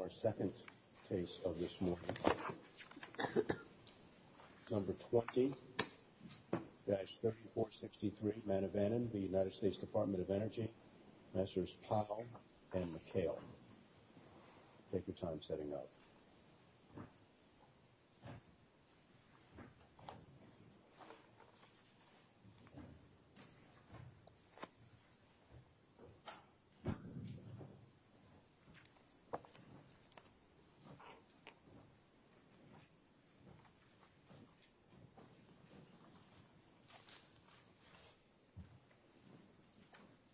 Our second case of this morning, number 20-3463 Manivannan v. US Dept of Energy, professors Powell and McHale. Take your time setting up.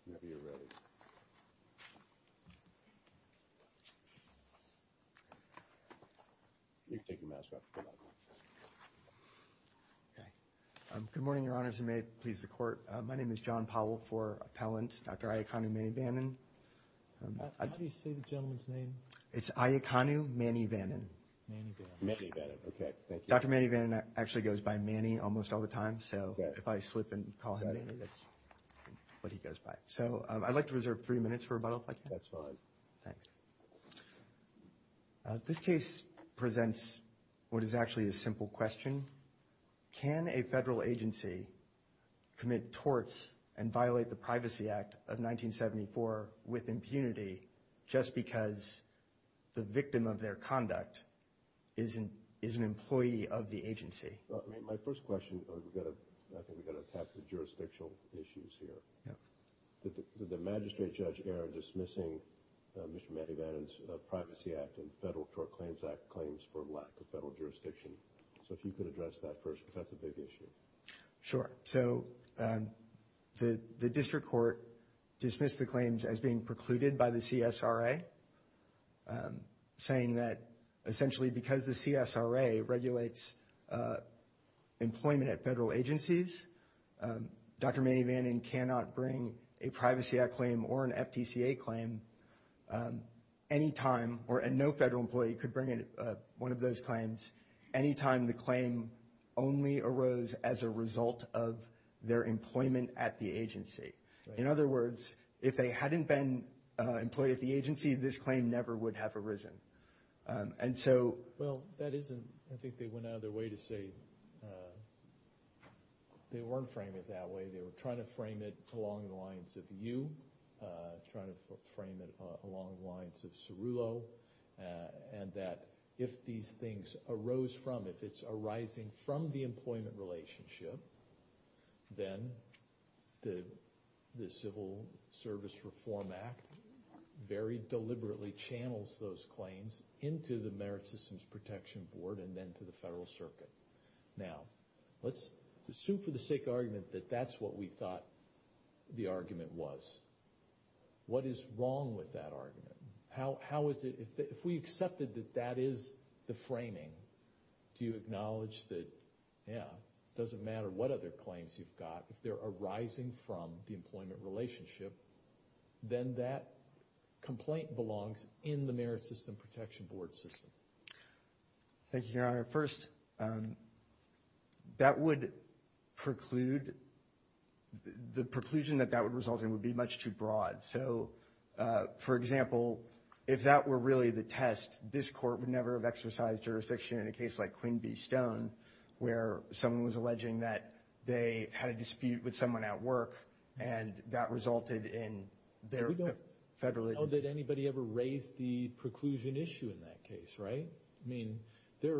Whenever you're ready. You can take your mask off. Good morning, your honors, and may it please the court. My name is John Powell for appellant, Dr. Iaconu Manivannan. How do you say the gentleman's name? It's Iaconu Manivannan. Manivannan. Manivannan, okay, thank you. Dr. Manivannan actually goes by Manny almost all the time, so if I slip and call him Manny, that's what he goes by. So I'd like to reserve three minutes for rebuttal, if I can. That's fine. Thanks. This case presents what is actually a simple question. Can a federal agency commit torts and violate the Privacy Act of 1974 with impunity just because the victim of their conduct is an employee of the agency? My first question, I think we've got to attack the jurisdictional issues here. Yeah. Did the magistrate judge err in dismissing Mr. Manivannan's Privacy Act and Federal Tort Claims Act claims for lack of federal jurisdiction? So if you could address that first, because that's a big issue. Sure. So the district court dismissed the claims as being precluded by the CSRA, saying that essentially because the CSRA regulates employment at federal agencies, Dr. Manivannan cannot bring a Privacy Act claim or an FTCA claim any time, or no federal employee could bring one of those claims, any time the claim only arose as a result of their employment at the agency. In other words, if they hadn't been employed at the agency, this claim never would have arisen. Well, that isn't – I think they went out of their way to say they weren't framing it that way. They were trying to frame it along the lines of you, trying to frame it along the lines of Cerullo, and that if these things arose from – if it's arising from the employment relationship, then the Civil Service Reform Act very deliberately channels those claims into the Merit Systems Protection Board and then to the federal circuit. Now, let's assume for the sake of argument that that's what we thought the argument was. What is wrong with that argument? How is it – if we accepted that that is the framing, do you acknowledge that, yeah, it doesn't matter what other claims you've got, if they're arising from the employment relationship, then that complaint belongs in the Merit System Protection Board system? Thank you, Your Honor. First, that would preclude – the preclusion that that would result in would be much too broad. So, for example, if that were really the test, this court would never have exercised jurisdiction in a case like Queen v. Stone, where someone was alleging that they had a dispute with someone at work, and that resulted in their – We don't know that anybody ever raised the preclusion issue in that case, right? I mean, there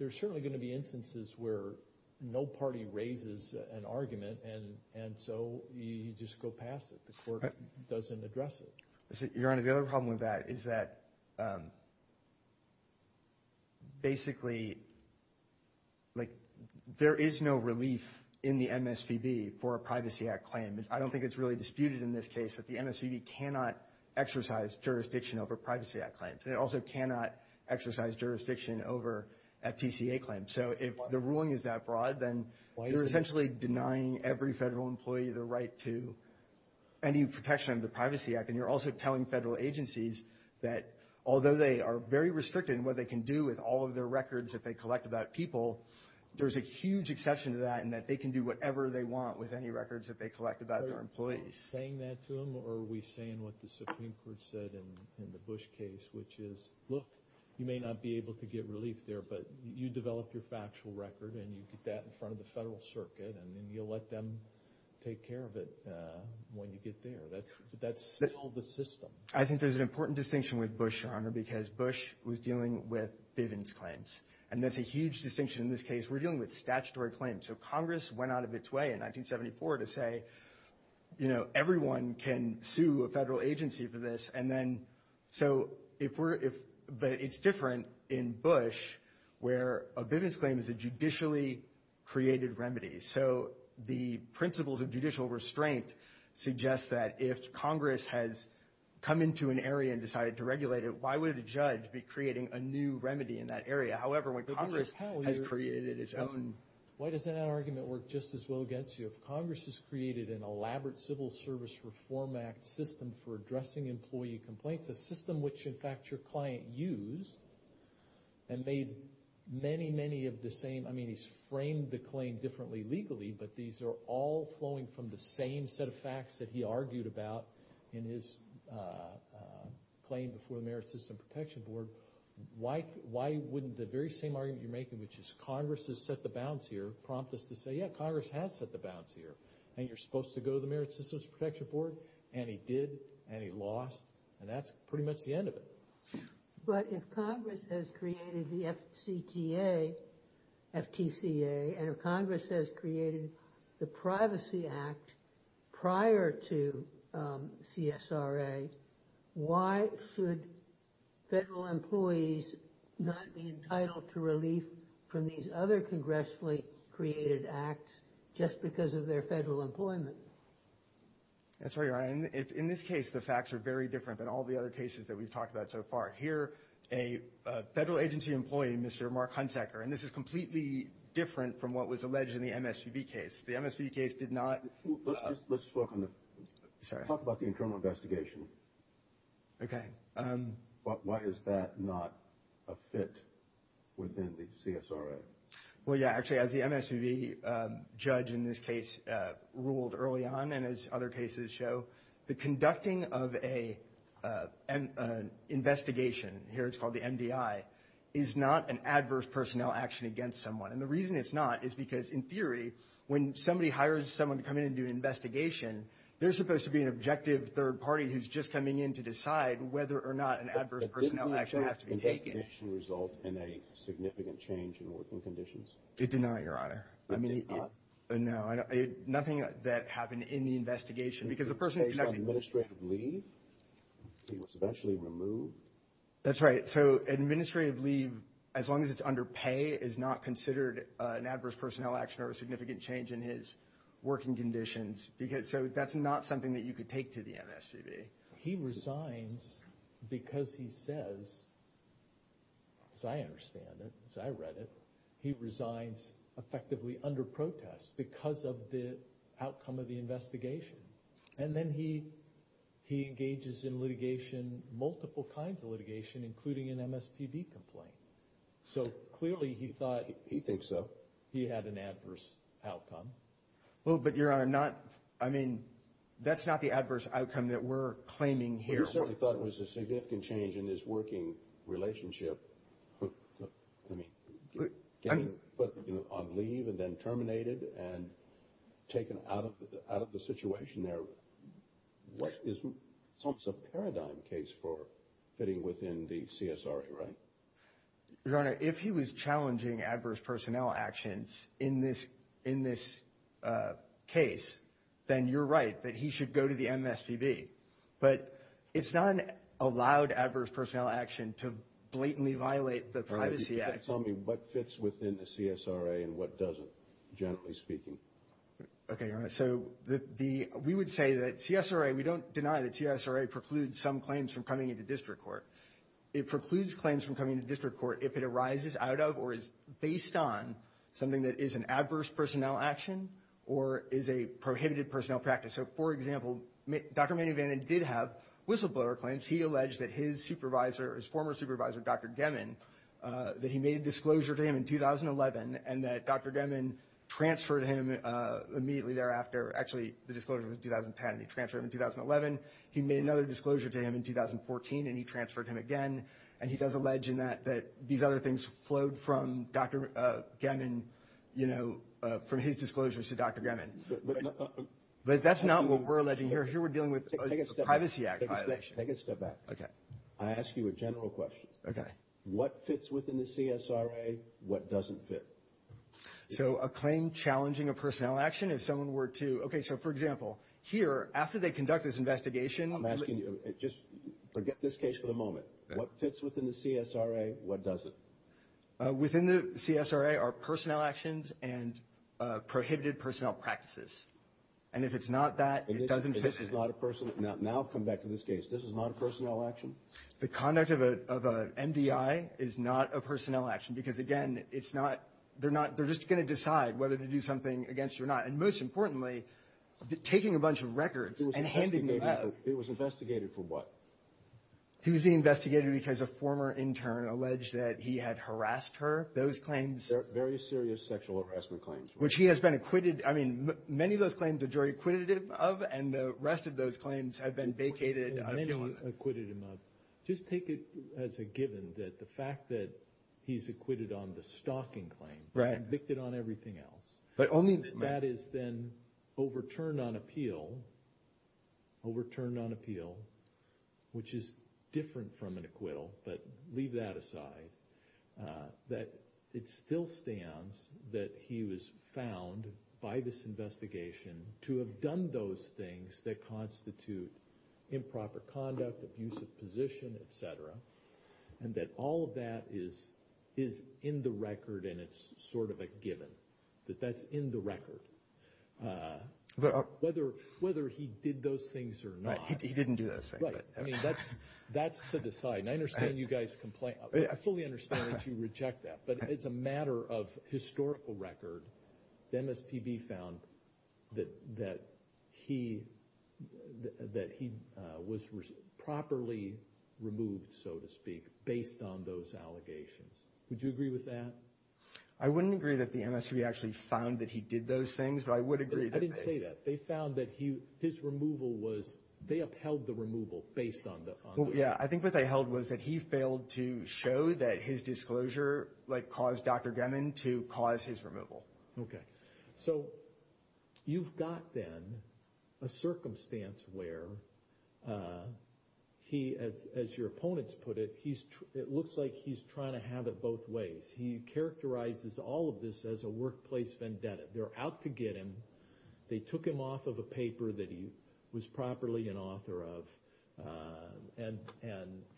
are certainly going to be instances where no party raises an argument, and so you just go past it. The court doesn't address it. Your Honor, the other problem with that is that basically, like, there is no relief in the MSPB for a Privacy Act claim. I don't think it's really disputed in this case that the MSPB cannot exercise jurisdiction over Privacy Act claims, and it also cannot exercise jurisdiction over FTCA claims. So if the ruling is that broad, then you're essentially denying every federal employee the right to any protection of the Privacy Act, and you're also telling federal agencies that although they are very restricted in what they can do with all of their records that they collect about people, there's a huge exception to that, and that they can do whatever they want with any records that they collect about their employees. Are you saying that to them, or are we saying what the Supreme Court said in the Bush case, which is, look, you may not be able to get relief there, but you develop your factual record, and you get that in front of the federal circuit, and then you let them take care of it when you get there? That's still the system. I think there's an important distinction with Bush, Your Honor, because Bush was dealing with Bivens claims, and that's a huge distinction in this case. We're dealing with statutory claims. So Congress went out of its way in 1974 to say, you know, everyone can sue a federal agency for this, but it's different in Bush where a Bivens claim is a judicially created remedy. So the principles of judicial restraint suggest that if Congress has come into an area and decided to regulate it, why would a judge be creating a new remedy in that area? However, when Congress has created its own. Why does that argument work just as well against you? If Congress has created an elaborate Civil Service Reform Act system for addressing employee complaints, a system which, in fact, your client used and made many, many of the same. I mean, he's framed the claim differently legally, but these are all flowing from the same set of facts that he argued about in his claim before the Merit System Protection Board. Why wouldn't the very same argument you're making, which is Congress has set the bounds here, prompt us to say, yeah, Congress has set the bounds here, and you're supposed to go to the Merit System Protection Board, and he did, and he lost, and that's pretty much the end of it. But if Congress has created the FCTA, FTCA, and if Congress has created the Privacy Act prior to CSRA, why should federal employees not be entitled to relief from these other congressfully created acts just because of their federal employment? That's right, Your Honor. In this case, the facts are very different than all the other cases that we've talked about so far. Here, a federal agency employee, Mr. Mark Hunsaker, and this is completely different from what was alleged in the MSPB case. The MSPB case did not – Let's talk about the internal investigation. Okay. Why is that not a fit within the CSRA? Well, yeah, actually, as the MSPB judge in this case ruled early on, and as other cases show, the conducting of an investigation, here it's called the MDI, is not an adverse personnel action against someone. And the reason it's not is because, in theory, when somebody hires someone to come in and do an investigation, they're supposed to be an objective third party who's just coming in to decide whether or not an adverse personnel action has to be taken. But didn't the investigation result in a significant change in working conditions? It did not, Your Honor. It did not? No, nothing that happened in the investigation. Because the person is conducting – He was on administrative leave? He was eventually removed? That's right. So administrative leave, as long as it's under pay, is not considered an adverse personnel action or a significant change in his working conditions. So that's not something that you could take to the MSPB. He resigns because he says, as I understand it, as I read it, he resigns effectively under protest because of the outcome of the investigation. And then he engages in litigation, multiple kinds of litigation, including an MSPB complaint. So clearly he thought – He thinks so. He had an adverse outcome. Well, but, Your Honor, not – I mean, that's not the adverse outcome that we're claiming here. Well, you certainly thought it was a significant change in his working relationship. I mean, on leave and then terminated and taken out of the situation there, what is – it's almost a paradigm case for fitting within the CSRA, right? Your Honor, if he was challenging adverse personnel actions in this case, then you're right that he should go to the MSPB. But it's not an allowed adverse personnel action to blatantly violate the Privacy Act. All right. You can tell me what fits within the CSRA and what doesn't, gently speaking. Okay, Your Honor. So we would say that CSRA – we don't deny that CSRA precludes some claims from coming into district court. It precludes claims from coming into district court if it arises out of or is based on something that is an adverse personnel action or is a prohibited personnel practice. So, for example, Dr. Manny Vanden did have whistleblower claims. He alleged that his supervisor – his former supervisor, Dr. Gemmon, that he made a disclosure to him in 2011 and that Dr. Gemmon transferred him immediately thereafter. Actually, the disclosure was 2010, and he transferred him in 2011. He made another disclosure to him in 2014, and he transferred him again. And he does allege in that that these other things flowed from Dr. Gemmon, you know, from his disclosures to Dr. Gemmon. But that's not what we're alleging here. Here we're dealing with a Privacy Act violation. Take a step back. Okay. I ask you a general question. Okay. What fits within the CSRA? What doesn't fit? So a claim challenging a personnel action, if someone were to – okay, so, for example, here, after they conduct this investigation – I'm asking you – just forget this case for the moment. What fits within the CSRA? What doesn't? Within the CSRA are personnel actions and prohibited personnel practices. And if it's not that, it doesn't fit. This is not a personnel – now come back to this case. This is not a personnel action? The conduct of an MDI is not a personnel action because, again, it's not – they're not – they're just going to decide whether to do something against you or not. And most importantly, taking a bunch of records and handing them out – It was investigated for what? He was being investigated because a former intern alleged that he had harassed her. Those claims – Very serious sexual harassment claims. Which he has been acquitted – I mean, many of those claims the jury acquitted him of, and the rest of those claims have been vacated. Many acquitted him of. Just take it as a given that the fact that he's acquitted on the stalking claim – Right. Convicted on everything else. But only – Which is different from an acquittal, but leave that aside. That it still stands that he was found by this investigation to have done those things that constitute improper conduct, abusive position, et cetera, and that all of that is in the record and it's sort of a given, that that's in the record. Whether he did those things or not – I mean, that's to decide, and I understand you guys – I fully understand that you reject that, but it's a matter of historical record. The MSPB found that he was properly removed, so to speak, based on those allegations. Would you agree with that? I wouldn't agree that the MSPB actually found that he did those things, I didn't say that. I think what they held was that he failed to show that his disclosure caused Dr. Gemmon to cause his removal. Okay. So you've got then a circumstance where he, as your opponents put it, it looks like he's trying to have it both ways. He characterizes all of this as a workplace vendetta. They're out to get him. They took him off of a paper that he was properly an author of, and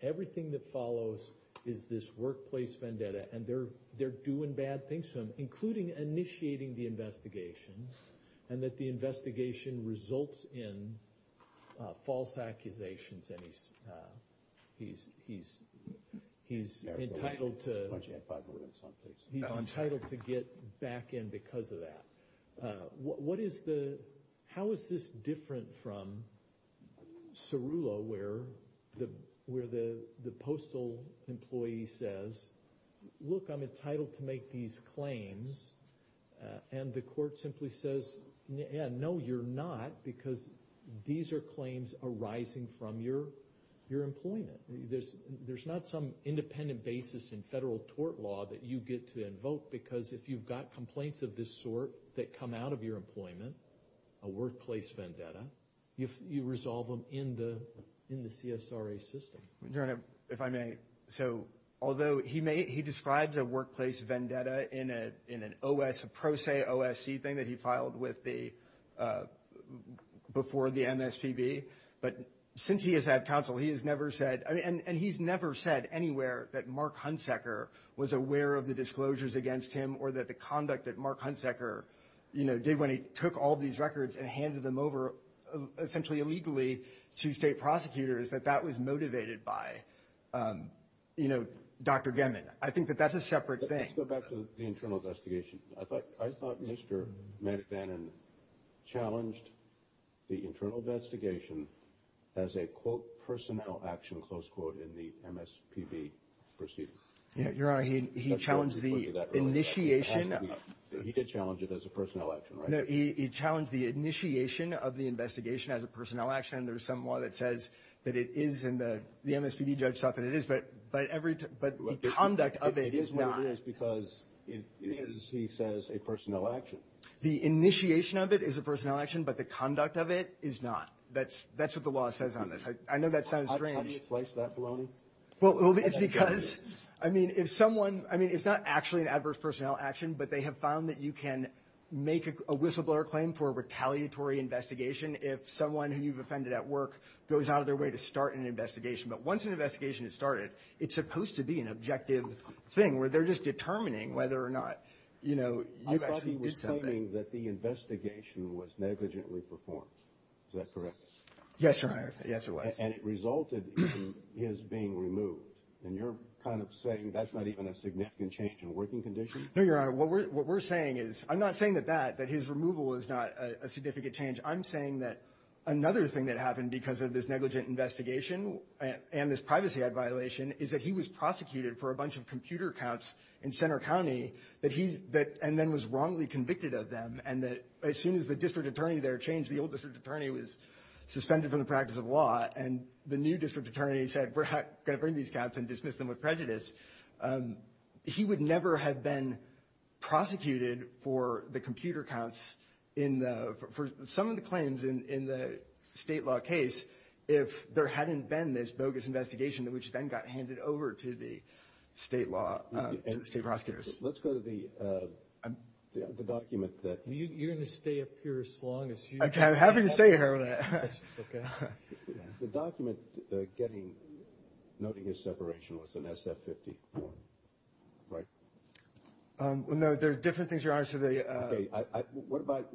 everything that follows is this workplace vendetta, and they're doing bad things to him, including initiating the investigation, and that the investigation results in false accusations, and he's entitled to get back in because of that. How is this different from Cerullo, where the postal employee says, look, I'm entitled to make these claims, and the court simply says, yeah, no, you're not, because these are claims arising from your employment. There's not some independent basis in federal tort law that you get to invoke, because if you've got complaints of this sort that come out of your employment, a workplace vendetta, you resolve them in the CSRA system. If I may, so although he describes a workplace vendetta in an OS, a pro se OSC thing that he filed before the MSPB, but since he has had counsel, he has never said, and he's never said anywhere that Mark Huntsecker was aware of the disclosures against him or that the conduct that Mark Huntsecker did when he took all these records and handed them over essentially illegally to state prosecutors, that that was motivated by Dr. Gemmon. I think that that's a separate thing. Let's go back to the internal investigation. I thought Mr. McFadden challenged the internal investigation as a, quote, personnel action, close quote, in the MSPB proceedings. Your Honor, he challenged the initiation. He did challenge it as a personnel action, right? No, he challenged the initiation of the investigation as a personnel action, and there's some law that says that it is, and the MSPB judge thought that it is, but the conduct of it is not. It is what it is because it is, he says, a personnel action. The initiation of it is a personnel action, but the conduct of it is not. That's what the law says on this. I know that sounds strange. How do you place that baloney? Well, it's because, I mean, if someone, I mean, it's not actually an adverse personnel action, but they have found that you can make a whistleblower claim for a retaliatory investigation if someone who you've offended at work goes out of their way to start an investigation. But once an investigation is started, it's supposed to be an objective thing where they're just determining whether or not, you know, you actually did something. I thought he was claiming that the investigation was negligently performed. Is that correct? Yes, Your Honor. Yes, it was. And it resulted in his being removed. And you're kind of saying that's not even a significant change in working condition? No, Your Honor. What we're saying is, I'm not saying that that, that his removal is not a significant change. I'm saying that another thing that happened because of this negligent investigation and this privacy violation is that he was prosecuted for a bunch of computer counts in Center County and then was wrongly convicted of them, and that as soon as the district attorney there changed, the old district attorney was suspended from the practice of law, and the new district attorney said, we're going to bring these counts and dismiss them with prejudice. He would never have been prosecuted for the computer counts in the, for some of the claims in the state law case if there hadn't been this bogus investigation, which then got handed over to the state law, state prosecutors. Let's go to the document that. You're going to stay up here as long as you can. I'm happy to stay here. The document getting, noting his separation was an SF-50 form, right? No, there are different things, Your Honor. What about,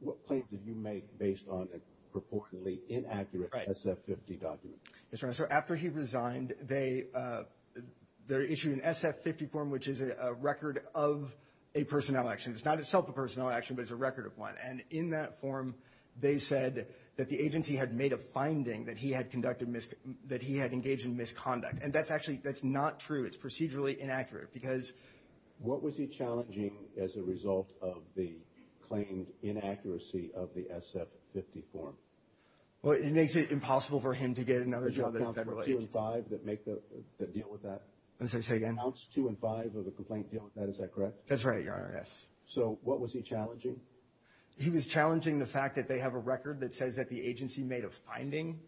what claim did you make based on a proportionately inaccurate SF-50 document? Yes, Your Honor. So after he resigned, they issued an SF-50 form, which is a record of a personnel action. It's not itself a personnel action, but it's a record of one. And in that form, they said that the agency had made a finding that he had conducted, that he had engaged in misconduct. And that's actually, that's not true. It's procedurally inaccurate because. What was he challenging as a result of the claimed inaccuracy of the SF-50 form? Well, it makes it impossible for him to get another job at a federal agency. The counts two and five that make the, that deal with that? Say again? The counts two and five of the complaint deal with that, is that correct? That's right, Your Honor, yes. So what was he challenging? He was challenging the fact that they have a record that says that the agency made a finding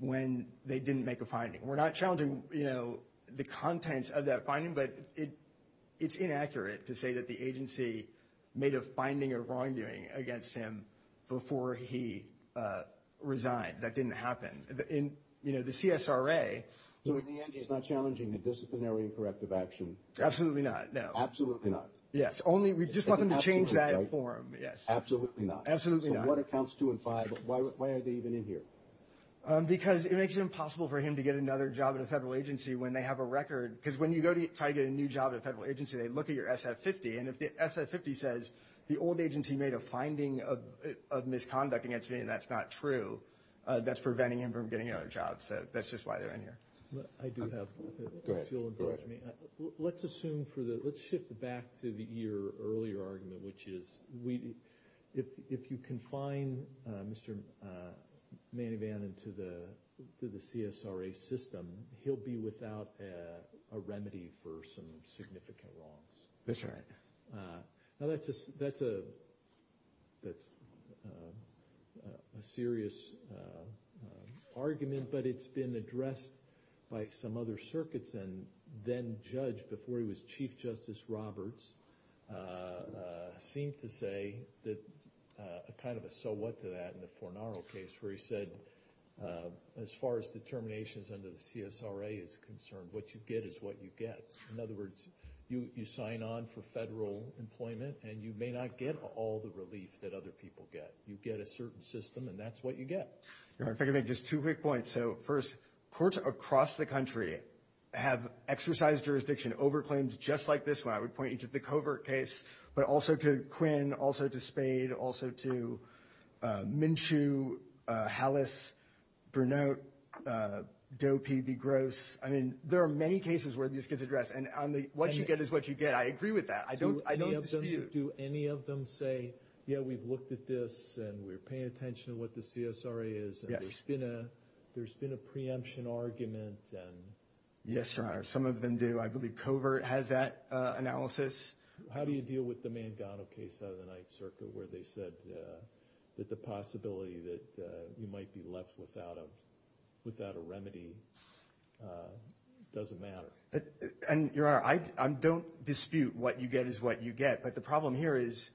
when they didn't make a finding. We're not challenging, you know, the contents of that finding, but it's inaccurate to say that the agency made a finding of wrongdoing against him before he resigned. That didn't happen. In, you know, the CSRA. So in the end, he's not challenging the disciplinary and corrective action? Absolutely not, no. Absolutely not. Yes, only we just want them to change that form, yes. Absolutely not. Absolutely not. So what are counts two and five? Why are they even in here? Because it makes it impossible for him to get another job at a federal agency when they have a record. Because when you go to try to get a new job at a federal agency, they look at your SF-50, and if the SF-50 says the old agency made a finding of misconduct against me and that's not true, that's preventing him from getting another job. I do have, if you'll indulge me. Go ahead. Let's assume for the, let's shift back to your earlier argument, which is if you confine Mr. Manivan into the CSRA system, he'll be without a remedy for some significant wrongs. That's right. The judge, before he was Chief Justice Roberts, seemed to say kind of a so what to that in the Fornaro case, where he said as far as determinations under the CSRA is concerned, what you get is what you get. In other words, you sign on for federal employment, and you may not get all the relief that other people get. You get a certain system, and that's what you get. Your Honor, if I could make just two quick points. So, first, courts across the country have exercised jurisdiction over claims just like this one. I would point you to the Covert case, but also to Quinn, also to Spade, also to Minshew, Hallis, Brunot, Dopey, Begrose. I mean, there are many cases where this gets addressed, and what you get is what you get. I agree with that. I don't dispute. Do any of them say, yeah, we've looked at this, and we're paying attention to what the CSRA is. Yes. There's been a preemption argument. Yes, Your Honor. Some of them do. I believe Covert has that analysis. How do you deal with the Mangano case out of the Ninth Circuit, where they said that the possibility that you might be left without a remedy doesn't matter? Your Honor, I don't dispute what you get is what you get. But the problem here is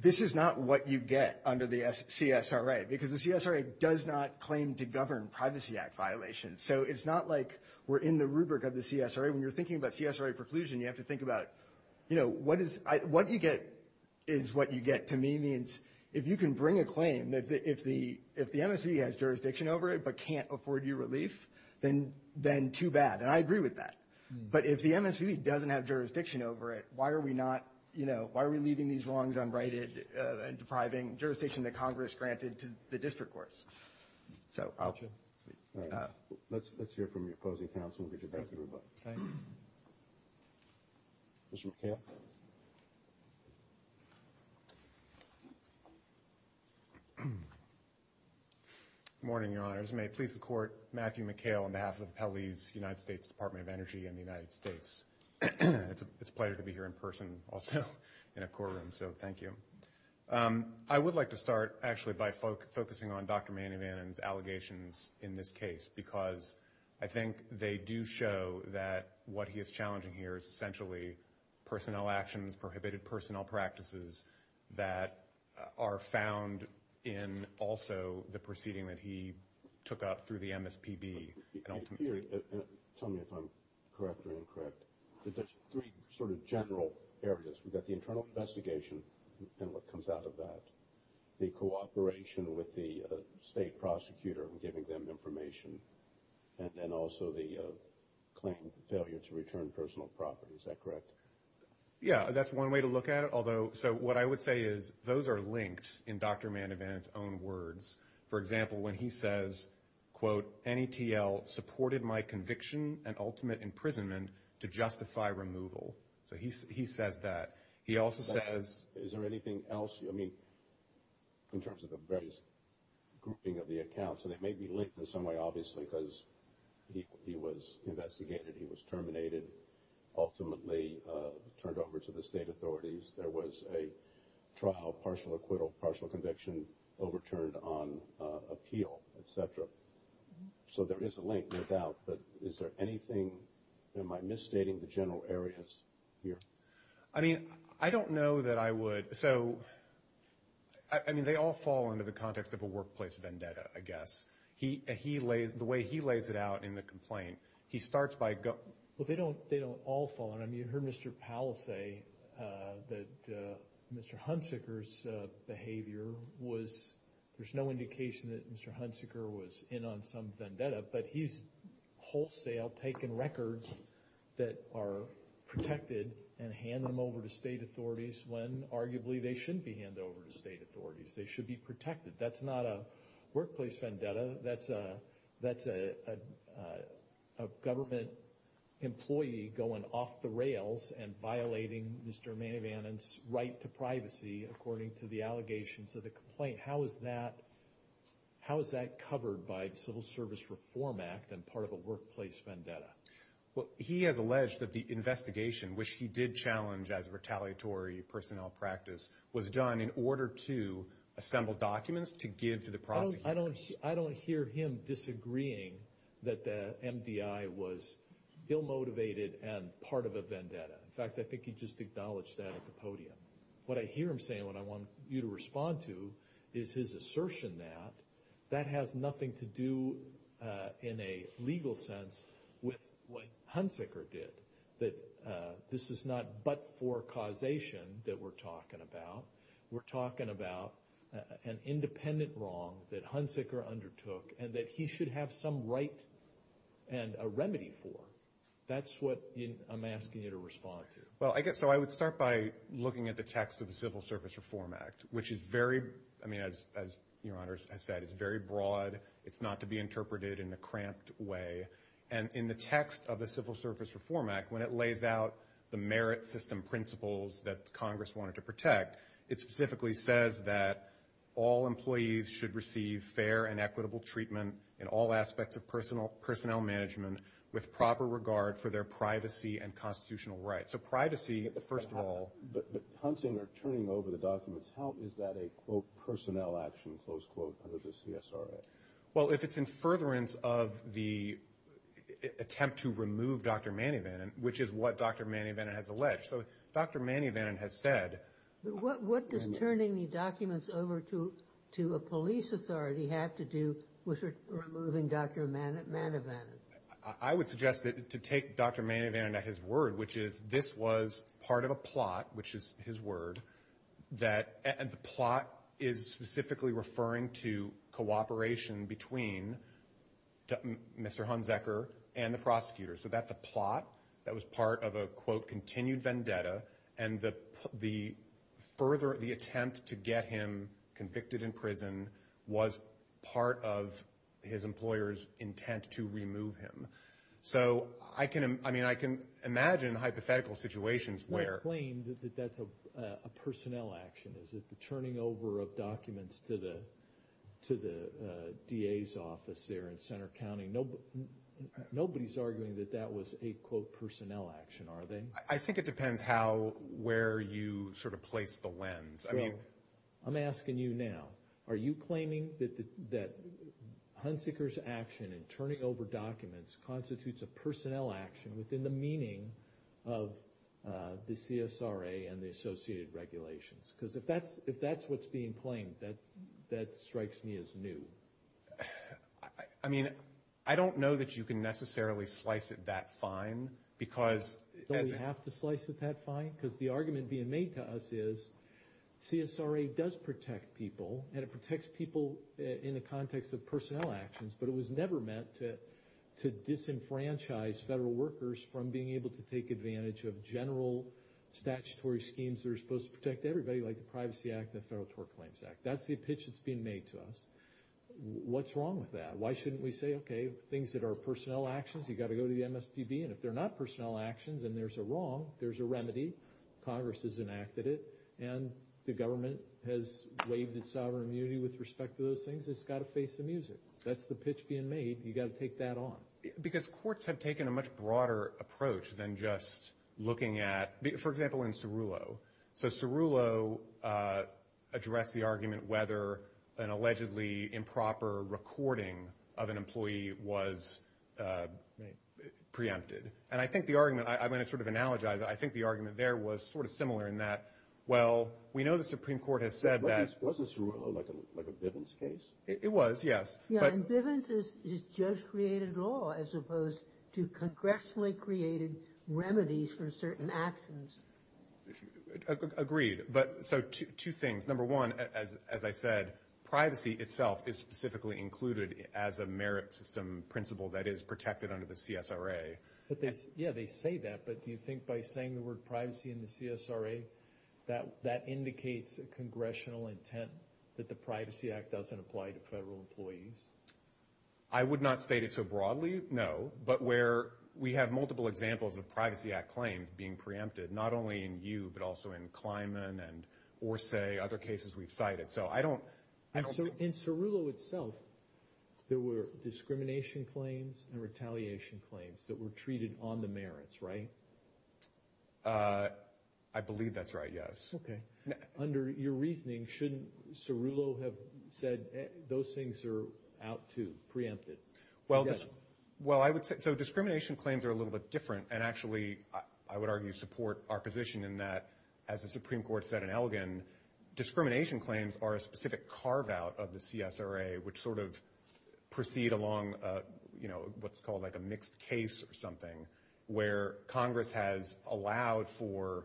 this is not what you get under the CSRA, because the CSRA does not claim to govern Privacy Act violations. So it's not like we're in the rubric of the CSRA. When you're thinking about CSRA preclusion, you have to think about what you get is what you get. To me, it means if you can bring a claim, if the MSP has jurisdiction over it but can't afford you relief, then too bad. And I agree with that. But if the MSP doesn't have jurisdiction over it, why are we leaving these wrongs unrighted and depriving jurisdiction that Congress granted to the district courts? Let's hear from the opposing counsel. Mr. McCann. Good morning, Your Honors. Members, may it please the Court, Matthew McHale on behalf of the Pele's United States Department of Energy and the United States. It's a pleasure to be here in person, also, in a courtroom, so thank you. I would like to start, actually, by focusing on Dr. Manny Mannon's allegations in this case, because I think they do show that what he is challenging here is essentially personnel actions, prohibited personnel practices, that are found in also the proceeding that he took up through the MSPB. Tell me if I'm correct or incorrect. There's three sort of general areas. We've got the internal investigation and what comes out of that, the cooperation with the state prosecutor in giving them information, and then also the claim for failure to return personal property. Is that correct? Yeah, that's one way to look at it. So what I would say is those are linked in Dr. Mannon's own words. For example, when he says, quote, NETL supported my conviction and ultimate imprisonment to justify removal. So he says that. Is there anything else? I mean, in terms of the various grouping of the accounts, and it may be linked in some way, obviously, because he was investigated, he was terminated, ultimately turned over to the state authorities. There was a trial, partial acquittal, partial conviction, overturned on appeal, et cetera. So there is a link, no doubt. But is there anything? Am I misstating the general areas here? I mean, I don't know that I would. So, I mean, they all fall under the context of a workplace vendetta, I guess. The way he lays it out in the complaint, he starts by going. Well, they don't all fall. I mean, you heard Mr. Powell say that Mr. Hunsicker's behavior was, there's no indication that Mr. Hunsicker was in on some vendetta, but he's wholesale taking records that are protected and handing them over to state authorities when, arguably, they shouldn't be handed over to state authorities. They should be protected. That's not a workplace vendetta. That's a government employee going off the rails and violating Mr. Mayvanen's right to privacy, according to the allegations of the complaint. How is that covered by the Civil Service Reform Act and part of a workplace vendetta? Well, he has alleged that the investigation, which he did challenge as a retaliatory personnel practice, was done in order to assemble documents to give to the prosecutors. I don't hear him disagreeing that the MDI was ill-motivated and part of a vendetta. What I hear him saying, what I want you to respond to, is his assertion that that has nothing to do in a legal sense with what Hunsicker did, that this is not but-for causation that we're talking about. We're talking about an independent wrong that Hunsicker undertook and that he should have some right and a remedy for. That's what I'm asking you to respond to. Well, I guess I would start by looking at the text of the Civil Service Reform Act, which is very broad. It's not to be interpreted in a cramped way. In the text of the Civil Service Reform Act, when it lays out the merit system principles that Congress wanted to protect, it specifically says that all employees should receive fair and equitable treatment in all aspects of personnel management with proper regard for their privacy and constitutional rights. So privacy, first of all. But hunting or turning over the documents, how is that a, quote, personnel action, close quote, under the CSRA? Well, if it's in furtherance of the attempt to remove Dr. Manny Vannon, which is what Dr. Manny Vannon has alleged. So Dr. Manny Vannon has said. What does turning the documents over to a police authority have to do with removing Dr. Manny Vannon? I would suggest that to take Dr. Manny Vannon at his word, which is this was part of a plot, which is his word, that the plot is specifically referring to cooperation between Mr. Hunziker and the prosecutor. So that's a plot that was part of a, quote, continued vendetta, and the further attempt to get him convicted in prison was part of his employer's intent to remove him. So, I mean, I can imagine hypothetical situations where. You don't claim that that's a personnel action. Is it the turning over of documents to the DA's office there in Center County? Nobody's arguing that that was a, quote, personnel action, are they? I think it depends how, where you sort of place the lens. I'm asking you now. Are you claiming that Hunziker's action in turning over documents constitutes a personnel action within the meaning of the CSRA and the associated regulations? Because if that's what's being claimed, that strikes me as new. I mean, I don't know that you can necessarily slice it that fine because... Don't we have to slice it that fine? Because the argument being made to us is CSRA does protect people, and it protects people in the context of personnel actions, but it was never meant to disenfranchise federal workers from being able to take advantage of general statutory schemes that are supposed to protect everybody, like the Privacy Act and the Federal Tort Claims Act. That's the pitch that's being made to us. What's wrong with that? Why shouldn't we say, okay, things that are personnel actions, you've got to go to the MSPB, and if they're not personnel actions and there's a wrong, there's a remedy. Congress has enacted it, and the government has waived its sovereign immunity with respect to those things. It's got to face the music. That's the pitch being made. You've got to take that on. Because courts have taken a much broader approach than just looking at... For example, in Cerullo. So Cerullo addressed the argument whether an allegedly improper recording of an employee was preempted. And I think the argument... I'm going to sort of analogize it. I think the argument there was sort of similar in that, well, we know the Supreme Court has said that... Wasn't Cerullo like a Bivens case? It was, yes. Yeah, and Bivens is just created law as opposed to congressionally created remedies for certain actions. Agreed. So two things. Number one, as I said, privacy itself is specifically included as a merit system principle that is protected under the CSRA. Yeah, they say that, but do you think by saying the word privacy in the CSRA, that indicates a congressional intent that the Privacy Act doesn't apply to federal employees? I would not state it so broadly, no. But where we have multiple examples of Privacy Act claims being preempted, not only in you but also in Kleiman and Orsay, other cases we've cited. So I don't... In Cerullo itself, there were discrimination claims and retaliation claims that were treated on the merits, right? I believe that's right, yes. Okay. Under your reasoning, shouldn't Cerullo have said those things are out too, preempted? Well, I would say... So discrimination claims are a little bit different and actually I would argue support our position in that, as the Supreme Court said in Elgin, discrimination claims are a specific carve-out of the CSRA which sort of proceed along what's called like a mixed case or something where Congress has allowed for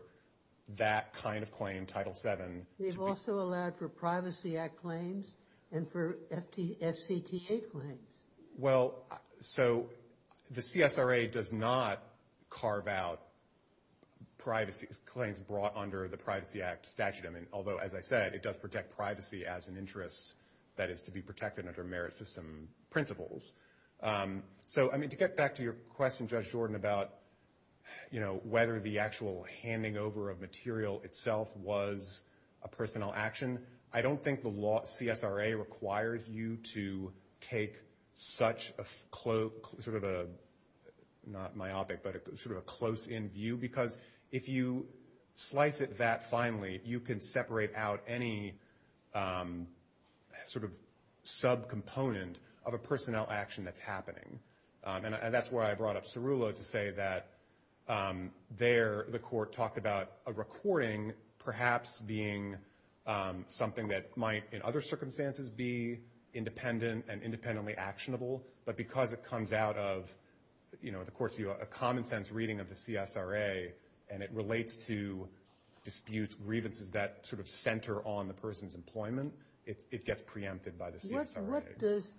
that kind of claim, Title VII... They've also allowed for Privacy Act claims and for FCTA claims. Well, so the CSRA does not carve out claims brought under the Privacy Act statute, although, as I said, it does protect privacy as an interest that is to be protected under merit system principles. So, I mean, to get back to your question, Judge Jordan, about whether the actual handing over of material itself was a personnel action, I don't think the CSRA requires you to take such a sort of a, not myopic, but sort of a close-in view because if you slice it that finely, you can separate out any sort of subcomponent of a personnel action that's happening. And that's why I brought up Cerullo to say that there the court talked about a recording perhaps being something that might in other circumstances be independent and independently actionable, but because it comes out of, you know, the court's view, a common sense reading of the CSRA and it relates to disputes, grievances, that sort of center on the person's employment, it gets preempted by the CSRA. What does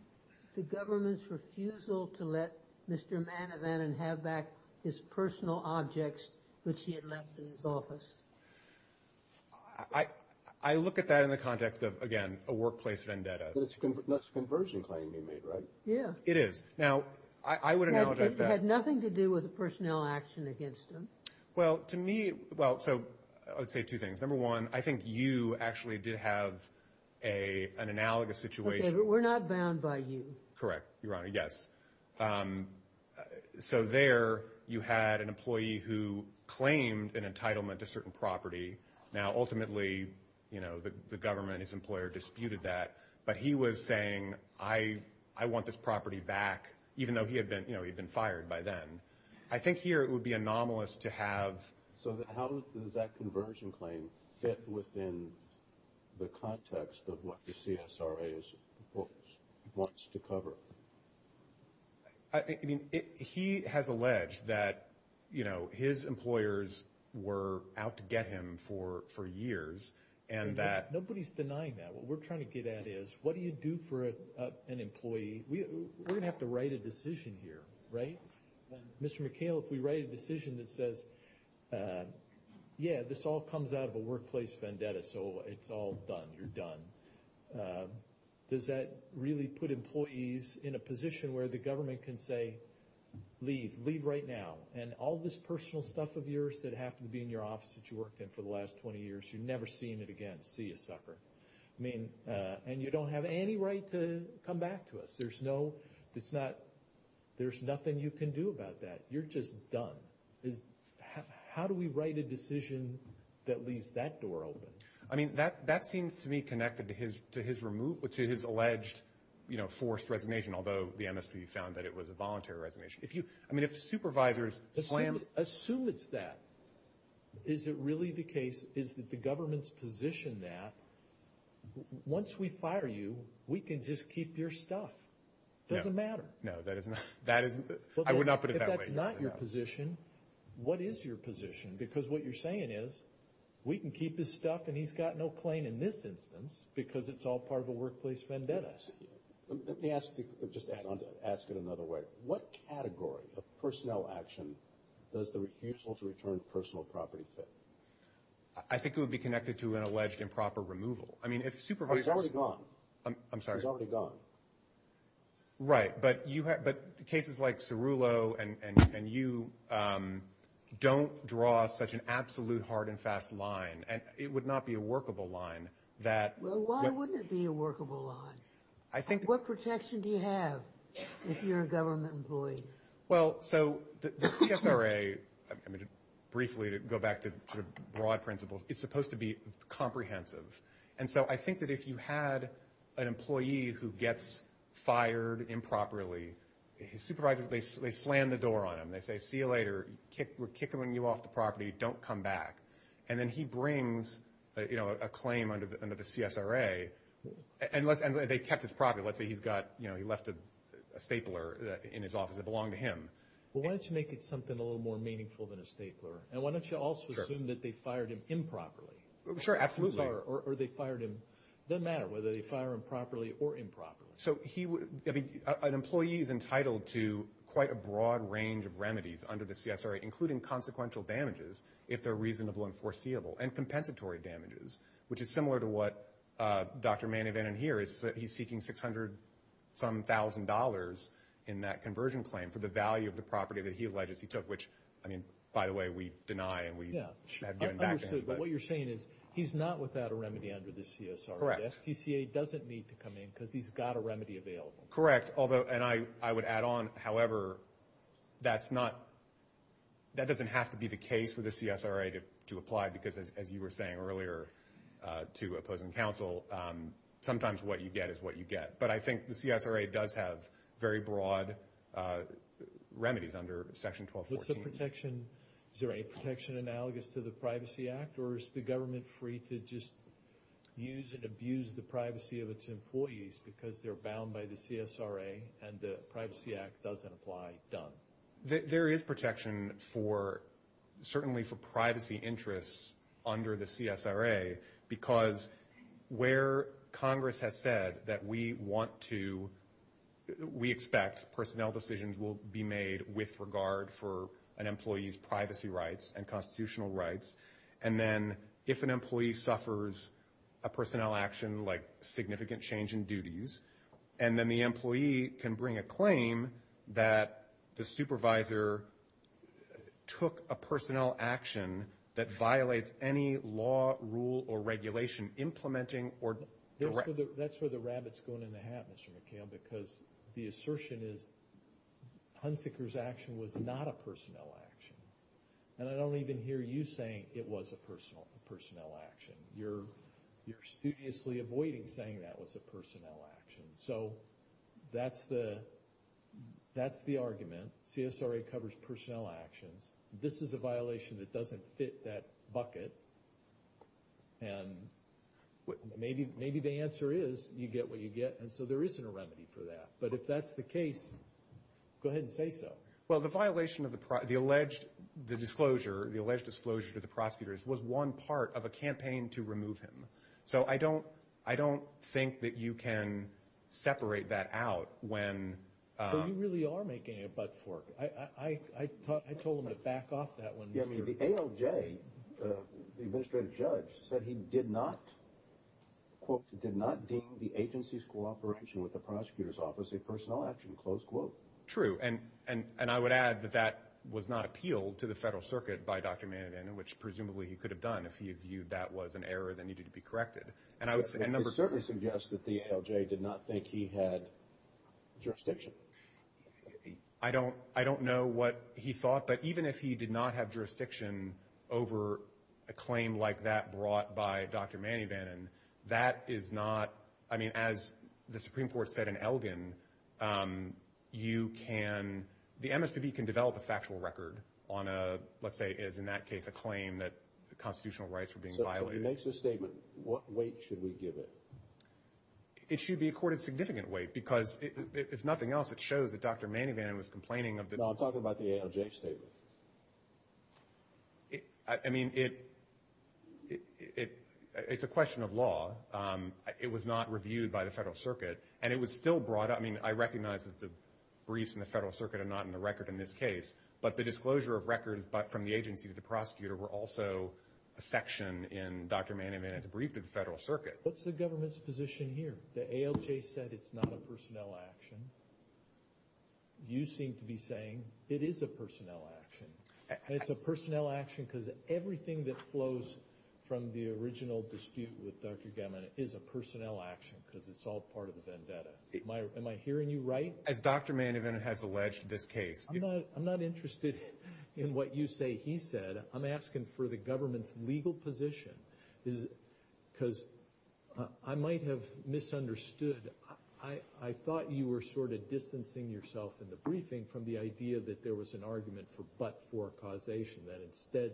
the government's refusal to let Mr. Manavanan have back his personal objects which he had left in his office? I look at that in the context of, again, a workplace vendetta. That's a conversion claim you made, right? Yeah. It is. Now, I would acknowledge that. It had nothing to do with the personnel action against him. Well, to me, well, so I would say two things. Number one, I think you actually did have an analogous situation. Okay, but we're not bound by you. Correct, Your Honor, yes. So there you had an employee who claimed an entitlement to certain property. Now, ultimately, you know, the government and his employer disputed that, but he was saying, I want this property back, even though he had been fired by then. I think here it would be anomalous to have. So how does that conversion claim fit within the context of what the CSRA wants to cover? I mean, he has alleged that, you know, his employers were out to get him for years. Nobody's denying that. What we're trying to get at is, what do you do for an employee? We're going to have to write a decision here, right? Mr. McHale, if we write a decision that says, yeah, this all comes out of a workplace vendetta, so it's all done, you're done, does that really put employees in a position where the government can say, leave, leave right now, and all this personal stuff of yours that happened to be in your office that you worked in for the last 20 years, you're never seeing it again, see you sucker. I mean, and you don't have any right to come back to us. There's no, it's not, there's nothing you can do about that. You're just done. How do we write a decision that leaves that door open? I mean, that seems to me connected to his alleged, you know, forced resignation, although the MSP found that it was a voluntary resignation. I mean, if supervisors slam. Assume it's that. Is it really the case, is it the government's position that once we fire you, we can just keep your stuff? It doesn't matter. No, that is not, I would not put it that way. If that's not your position, what is your position? Because what you're saying is, we can keep his stuff and he's got no claim in this instance because it's all part of a workplace vendetta. Let me ask, just to add on to that, ask it another way. What category of personnel action does the refusal to return personal property fit? I think it would be connected to an alleged improper removal. I mean, if supervisors. He's already gone. I'm sorry. He's already gone. Right, but cases like Cerullo and you don't draw such an absolute hard and fast line. And it would not be a workable line that. Well, why wouldn't it be a workable line? I think. What protection do you have if you're a government employee? Well, so the CSRA, briefly to go back to broad principles, is supposed to be comprehensive. And so I think that if you had an employee who gets fired improperly, his supervisor, they slam the door on him. They say, see you later. We're kicking you off the property. Don't come back. And then he brings a claim under the CSRA. And they kept his property. Let's say he left a stapler in his office that belonged to him. Well, why don't you make it something a little more meaningful than a stapler? And why don't you also assume that they fired him improperly? Sure, absolutely. Or they fired him. Doesn't matter whether they fire him properly or improperly. So an employee is entitled to quite a broad range of remedies under the CSRA, including consequential damages, if they're reasonable and foreseeable, and compensatory damages, which is similar to what Dr. Manny Vanden Heer is seeking $600-some-thousand in that conversion claim for the value of the property that he alleged he took, which, I mean, by the way, we deny. Yeah, I understand. But what you're saying is he's not without a remedy under the CSRA. Correct. The FTCA doesn't need to come in because he's got a remedy available. Correct. And I would add on, however, that doesn't have to be the case for the CSRA to apply, because as you were saying earlier to opposing counsel, sometimes what you get is what you get. But I think the CSRA does have very broad remedies under Section 1214. What's the protection? Is there any protection analogous to the Privacy Act, or is the government free to just use and abuse the privacy of its employees because they're bound by the CSRA and the Privacy Act doesn't apply? Done. There is protection, certainly for privacy interests under the CSRA, because where Congress has said that we want to – we expect personnel decisions will be made with regard for an employee's privacy rights and constitutional rights, and then if an employee suffers a personnel action like significant change in duties, and then the employee can bring a claim that the supervisor took a personnel action that violates any law, rule, or regulation implementing or directing. That's where the rabbit's going in the hat, Mr. McHale, because the assertion is Hunsicker's action was not a personnel action, and I don't even hear you saying it was a personnel action. You're studiously avoiding saying that was a personnel action. So that's the argument. CSRA covers personnel actions. This is a violation that doesn't fit that bucket, and maybe the answer is you get what you get, and so there isn't a remedy for that. But if that's the case, go ahead and say so. Well, the violation of the alleged disclosure to the prosecutors was one part of a campaign to remove him. So I don't think that you can separate that out when— So you really are making a butt fork. I told him to back off that one. The ALJ, the administrative judge, said he did not, quote, did not deem the agency's cooperation with the prosecutor's office a personnel action, close quote. True, and I would add that that was not appealed to the Federal Circuit by Dr. Mann, which presumably he could have done if he had viewed that was an error that needed to be corrected. It certainly suggests that the ALJ did not think he had jurisdiction. I don't know what he thought, but even if he did not have jurisdiction over a claim like that brought by Dr. Manny Bannon, that is not— I mean, as the Supreme Court said in Elgin, you can—the MSPB can develop a factual record on a, let's say, as in that case, a claim that constitutional rights were being violated. So if he makes this statement, what weight should we give it? It should be accorded significant weight because if nothing else, it shows that Dr. Manny Bannon was complaining of the— I mean, it's a question of law. It was not reviewed by the Federal Circuit, and it was still brought up— I mean, I recognize that the briefs in the Federal Circuit are not in the record in this case, but the disclosure of records from the agency to the prosecutor were also a section in Dr. Manny Bannon's brief to the Federal Circuit. What's the government's position here? The ALJ said it's not a personnel action. You seem to be saying it is a personnel action, and it's a personnel action because everything that flows from the original dispute with Dr. Gammon is a personnel action because it's all part of the vendetta. Am I hearing you right? As Dr. Manny Bannon has alleged in this case— I'm not interested in what you say he said. I'm asking for the government's legal position because I might have misunderstood. I thought you were sort of distancing yourself in the briefing from the idea that there was an argument for but-for causation, that instead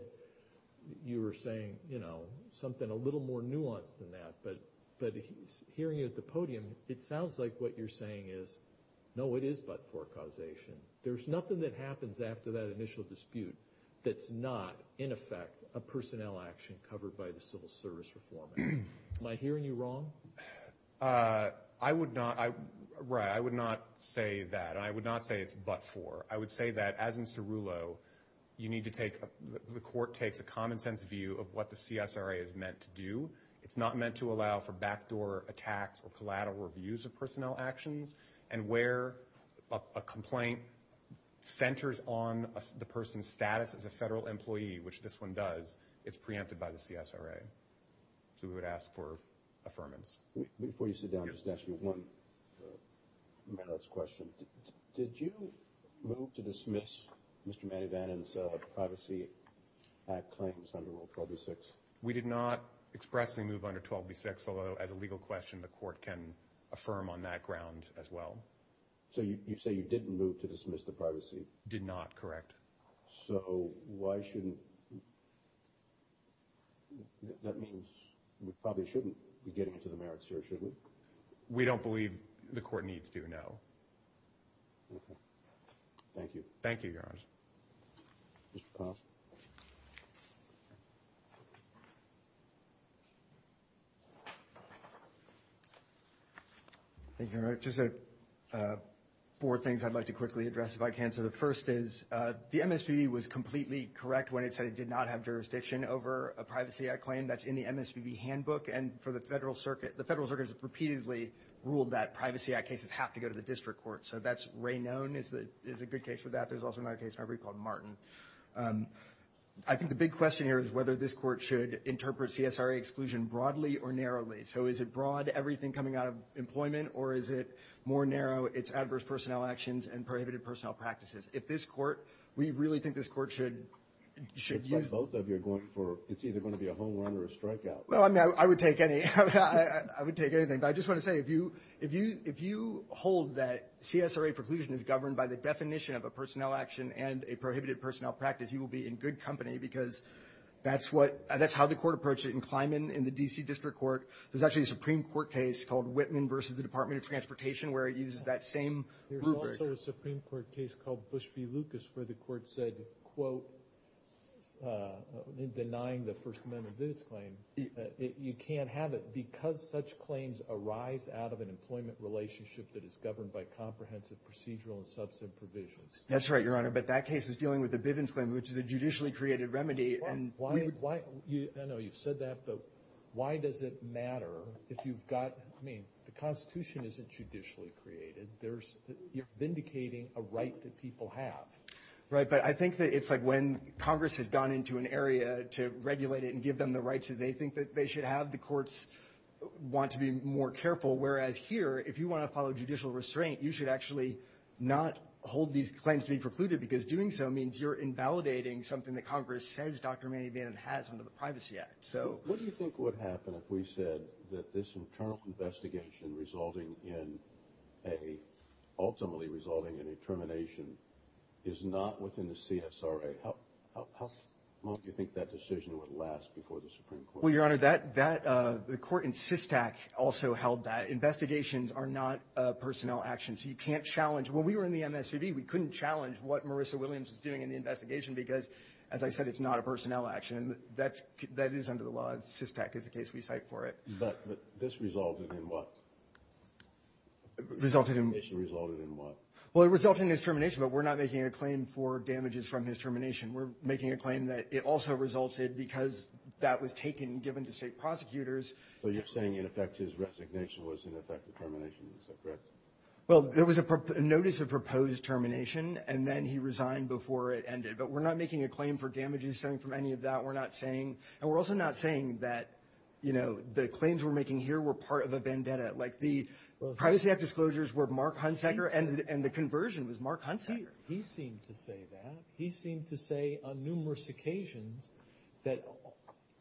you were saying something a little more nuanced than that. But hearing you at the podium, it sounds like what you're saying is, no, it is but-for causation. There's nothing that happens after that initial dispute that's not, in effect, a personnel action covered by the Civil Service Reform Act. Am I hearing you wrong? I would not say that, and I would not say it's but-for. I would say that, as in Cerullo, the court takes a common-sense view of what the CSRA is meant to do. It's not meant to allow for backdoor attacks or collateral reviews of personnel actions, and where a complaint centers on the person's status as a federal employee, which this one does, it's preempted by the CSRA. So we would ask for affirmance. Before you sit down, I'll just ask you one last question. Did you move to dismiss Mr. Manny Vannon's Privacy Act claims under Rule 1286? We did not expressly move under 1286, although as a legal question the court can affirm on that ground as well. So you say you didn't move to dismiss the privacy? Did not, correct. So why shouldn't-that means we probably shouldn't be getting into the merits here, should we? We don't believe the court needs to know. Okay. Thank you. Thank you, Your Honor. Mr. Powell? Thank you, Your Honor. Just four things I'd like to quickly address, if I can. So the first is the MSPB was completely correct when it said it did not have jurisdiction over a Privacy Act claim. That's in the MSPB handbook. And for the Federal Circuit, the Federal Circuit has repeatedly ruled that Privacy Act cases have to go to the district court. So that's-Ray None is a good case for that. There's also another case in my brief called Martin. I think the big question here is whether this court should interpret CSRA exclusion broadly or narrowly. So is it broad, everything coming out of employment, or is it more narrow, it's adverse personnel actions and prohibited personnel practices? If this court-we really think this court should use- It's like both of you are going for-it's either going to be a home run or a strikeout. Well, I mean, I would take any-I would take anything. But I just want to say if you hold that CSRA preclusion is governed by the definition of a personnel action and a prohibited personnel practice, you will be in good company because that's what-that's how the court approached it in Kleiman in the D.C. District Court. There's actually a Supreme Court case called Whitman v. The Department of Transportation where it uses that same rubric. There's also a Supreme Court case called Bush v. Lucas where the court said, quote, in denying the First Amendment Bivens claim, you can't have it because such claims arise out of an employment relationship that is governed by comprehensive procedural and substantive provisions. That's right, Your Honor. But that case is dealing with the Bivens claim, which is a judicially created remedy. I know you've said that, but why does it matter if you've got-I mean, the Constitution isn't judicially created. You're vindicating a right that people have. Right, but I think that it's like when Congress has gone into an area to regulate it and give them the rights that they think that they should have, the courts want to be more careful. Whereas here, if you want to follow judicial restraint, you should actually not hold these claims to be precluded because doing so means you're invalidating something that Congress says Dr. Manny Bannon has under the Privacy Act. What do you think would happen if we said that this internal investigation ultimately resulting in a termination is not within the CSRA? How long do you think that decision would last before the Supreme Court? Well, Your Honor, the court in SysTac also held that investigations are not personnel actions. You can't challenge. When we were in the MSCB, we couldn't challenge what Marissa Williams was doing in the investigation because, as I said, it's not a personnel action. That is under the law. SysTac is the case we cite for it. But this resulted in what? Resulted in- This resulted in what? Well, it resulted in his termination, but we're not making a claim for damages from his termination. We're making a claim that it also resulted because that was taken and given to state prosecutors. So you're saying, in effect, his resignation was, in effect, the termination, is that correct? Well, there was a notice of proposed termination, and then he resigned before it ended. But we're not making a claim for damages stemming from any of that. We're not saying- and we're also not saying that, you know, the claims we're making here were part of a vendetta. Like, the privacy act disclosures were Mark Hunsaker, and the conversion was Mark Hunsaker. He seemed to say that. He seemed to say on numerous occasions that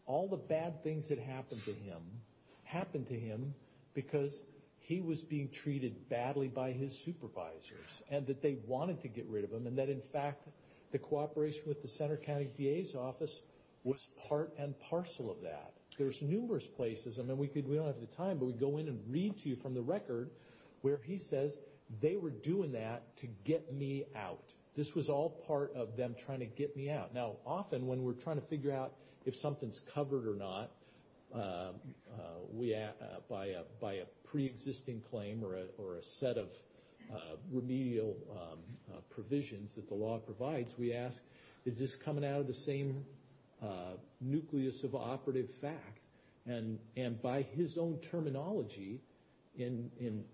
all the bad things that happened to him because he was being treated badly by his supervisors, and that they wanted to get rid of him, and that, in fact, the cooperation with the Center County DA's office was part and parcel of that. There's numerous places- I mean, we don't have the time, but we go in and read to you from the record where he says, they were doing that to get me out. This was all part of them trying to get me out. Now, often when we're trying to figure out if something's covered or not, by a pre-existing claim or a set of remedial provisions that the law provides, we ask, is this coming out of the same nucleus of operative fact? And by his own terminology, in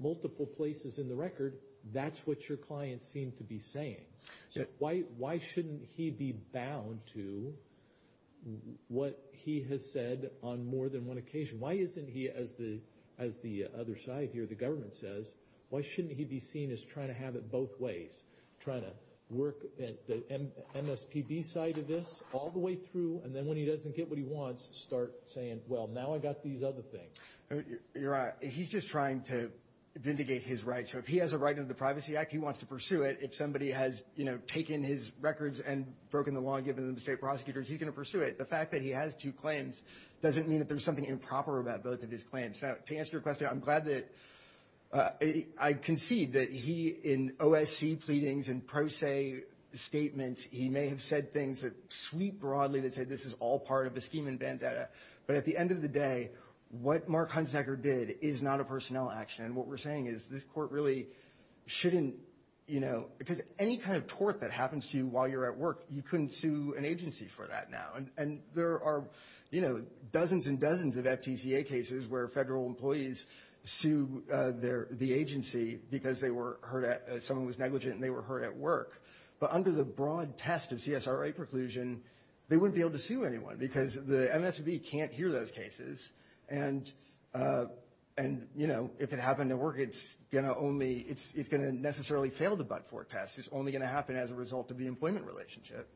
multiple places in the record, that's what your client seemed to be saying. So why shouldn't he be bound to what he has said on more than one occasion? Why isn't he, as the other side here, the government says, why shouldn't he be seen as trying to have it both ways? Trying to work at the MSPB side of this all the way through, and then when he doesn't get what he wants, start saying, well, now I got these other things. Your Honor, he's just trying to vindicate his rights. So if he has a right under the Privacy Act, he wants to pursue it. If somebody has taken his records and broken the law and given them to state prosecutors, he's going to pursue it. The fact that he has two claims doesn't mean that there's something improper about both of his claims. Now, to answer your question, I'm glad that I concede that he, in OSC pleadings and pro se statements, he may have said things that sweep broadly that said this is all part of a scheme and vendetta. But at the end of the day, what Mark Hunsnecker did is not a personnel action. And what we're saying is this court really shouldn't, you know, because any kind of tort that happens to you while you're at work, you couldn't sue an agency for that now. And there are, you know, dozens and dozens of FTCA cases where federal employees sue the agency because someone was negligent and they were hurt at work. But under the broad test of CSRA preclusion, they wouldn't be able to sue anyone because the MSPB can't hear those cases. And, you know, if it happened at work, it's going to only, it's going to necessarily fail the but-for test. It's only going to happen as a result of the employment relationship.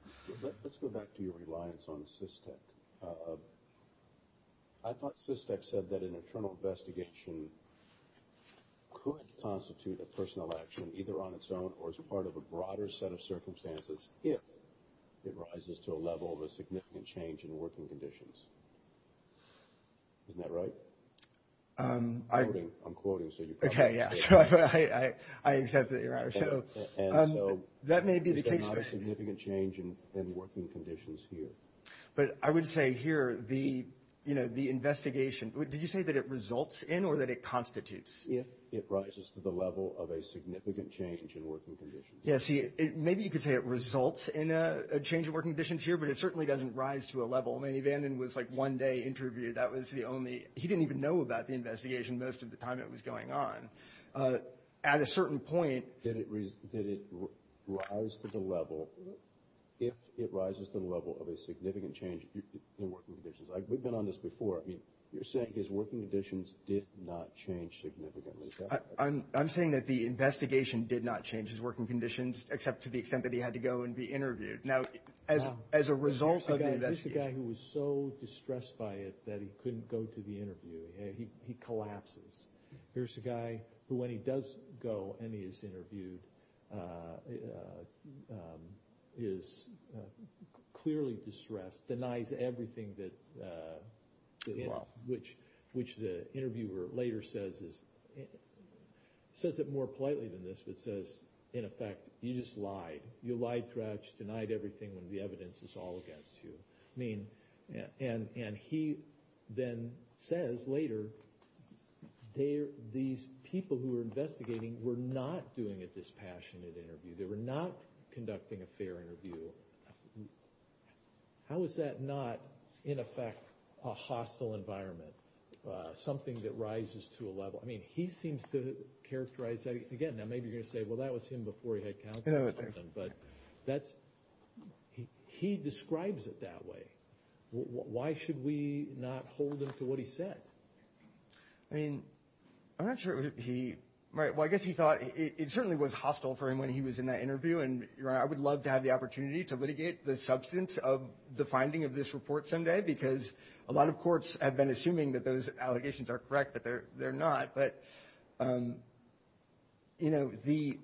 Let's go back to your reliance on SysTek. I thought SysTek said that an internal investigation could constitute a personnel action either on its own or as part of a broader set of circumstances if it rises to a level of a Isn't that right? I'm quoting. So you're correct. Okay. Yeah. So I accept that you're right. So that may be the case. It's not a significant change in working conditions here. But I would say here the, you know, the investigation, did you say that it results in or that it constitutes? If it rises to the level of a significant change in working conditions. Yeah. doesn't rise to a level. I mean, Vanden was like one day interviewed. That was the only, he didn't even know about the investigation most of the time it was going on. At a certain point. Did it rise to the level, if it rises to the level of a significant change in working conditions. We've been on this before. I mean, you're saying his working conditions did not change significantly. I'm saying that the investigation did not change his working conditions except to the extent that he had to go and be interviewed. Now, as a result of the investigation. Here's the guy who was so distressed by it that he couldn't go to the interview. He collapses. Here's the guy who when he does go and he is interviewed, is clearly distressed, denies everything that, which the interviewer later says is, says it more politely than this, but says, in effect, you just lied. You lied throughout. You denied everything when the evidence is all against you. I mean, and he then says later, these people who were investigating were not doing it this passionate interview. They were not conducting a fair interview. How is that not, in effect, a hostile environment? Something that rises to a level. I mean, he seems to characterize that. Again, now maybe you're going to say, well, that was him before he had counsel. But that's, he describes it that way. Why should we not hold him to what he said? I mean, I'm not sure he, right. Well, I guess he thought it certainly was hostile for him when he was in that interview. And I would love to have the opportunity to litigate the substance of the finding of this report someday because a lot of courts have been assuming that those allegations are correct, but they're not. But, you know, the,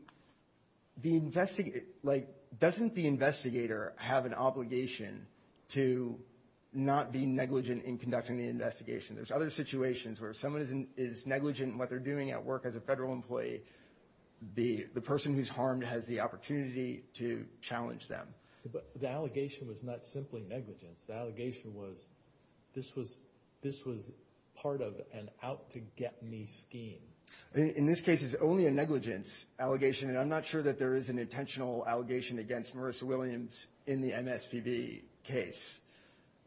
like, doesn't the investigator have an obligation to not be negligent in conducting the investigation? There's other situations where if someone is negligent in what they're doing at work as a federal employee, the person who's harmed has the opportunity to challenge them. But the allegation was not simply negligence. The allegation was this was part of an out-to-get-me scheme. In this case, it's only a negligence allegation. And I'm not sure that there is an intentional allegation against Marissa Williams in the MSPB case.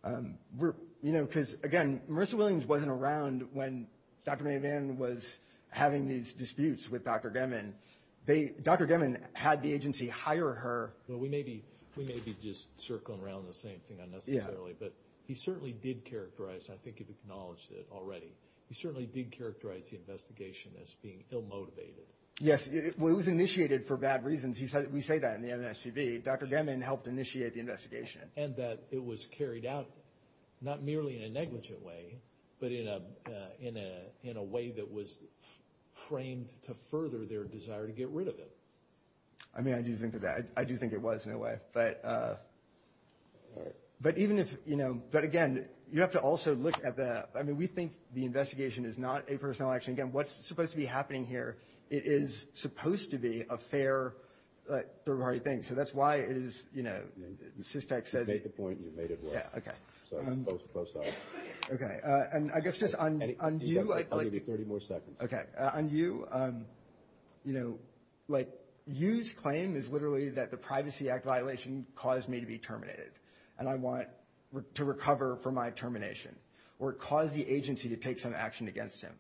You know, because, again, Marissa Williams wasn't around when Dr. Mayvan was having these disputes with Dr. Gemmon. Dr. Gemmon had the agency hire her. Well, we may be just circling around the same thing unnecessarily. Yeah. But he certainly did characterize, and I think you've acknowledged it already, he certainly did characterize the investigation as being ill-motivated. Yes. Well, it was initiated for bad reasons. We say that in the MSPB. Dr. Gemmon helped initiate the investigation. And that it was carried out not merely in a negligent way, but in a way that was framed to further their desire to get rid of it. I mean, I do think of that. I do think it was in a way. But even if, you know, but again, you have to also look at the, I mean, we think the investigation is not a personal action. Again, what's supposed to be happening here, it is supposed to be a fair third-party thing. So that's why it is, you know, the SysTax says it. You've made the point and you've made it work. Yeah, okay. So both sides. Okay. And I guess just on you. I'll give you 30 more seconds. Okay. So on you, you know, like you claim is literally that the Privacy Act violation caused me to be terminated. And I want to recover from my termination. Or it caused the agency to take some action against him.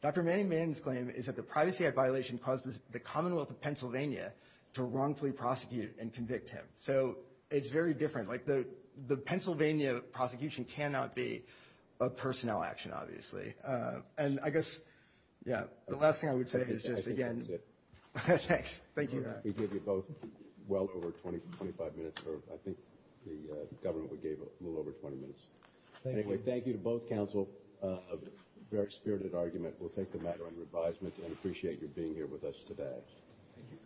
Dr. Manning's claim is that the Privacy Act violation caused the Commonwealth of Pennsylvania to wrongfully prosecute and convict him. So it's very different. Like the Pennsylvania prosecution cannot be a personnel action, obviously. And I guess, yeah, the last thing I would say is just again. I think that's it. Thanks. Thank you. We gave you both well over 20, 25 minutes, or I think the government gave a little over 20 minutes. Anyway, thank you to both counsel. A very spirited argument. We'll take the matter under advisement and appreciate you being here with us today. Thank you.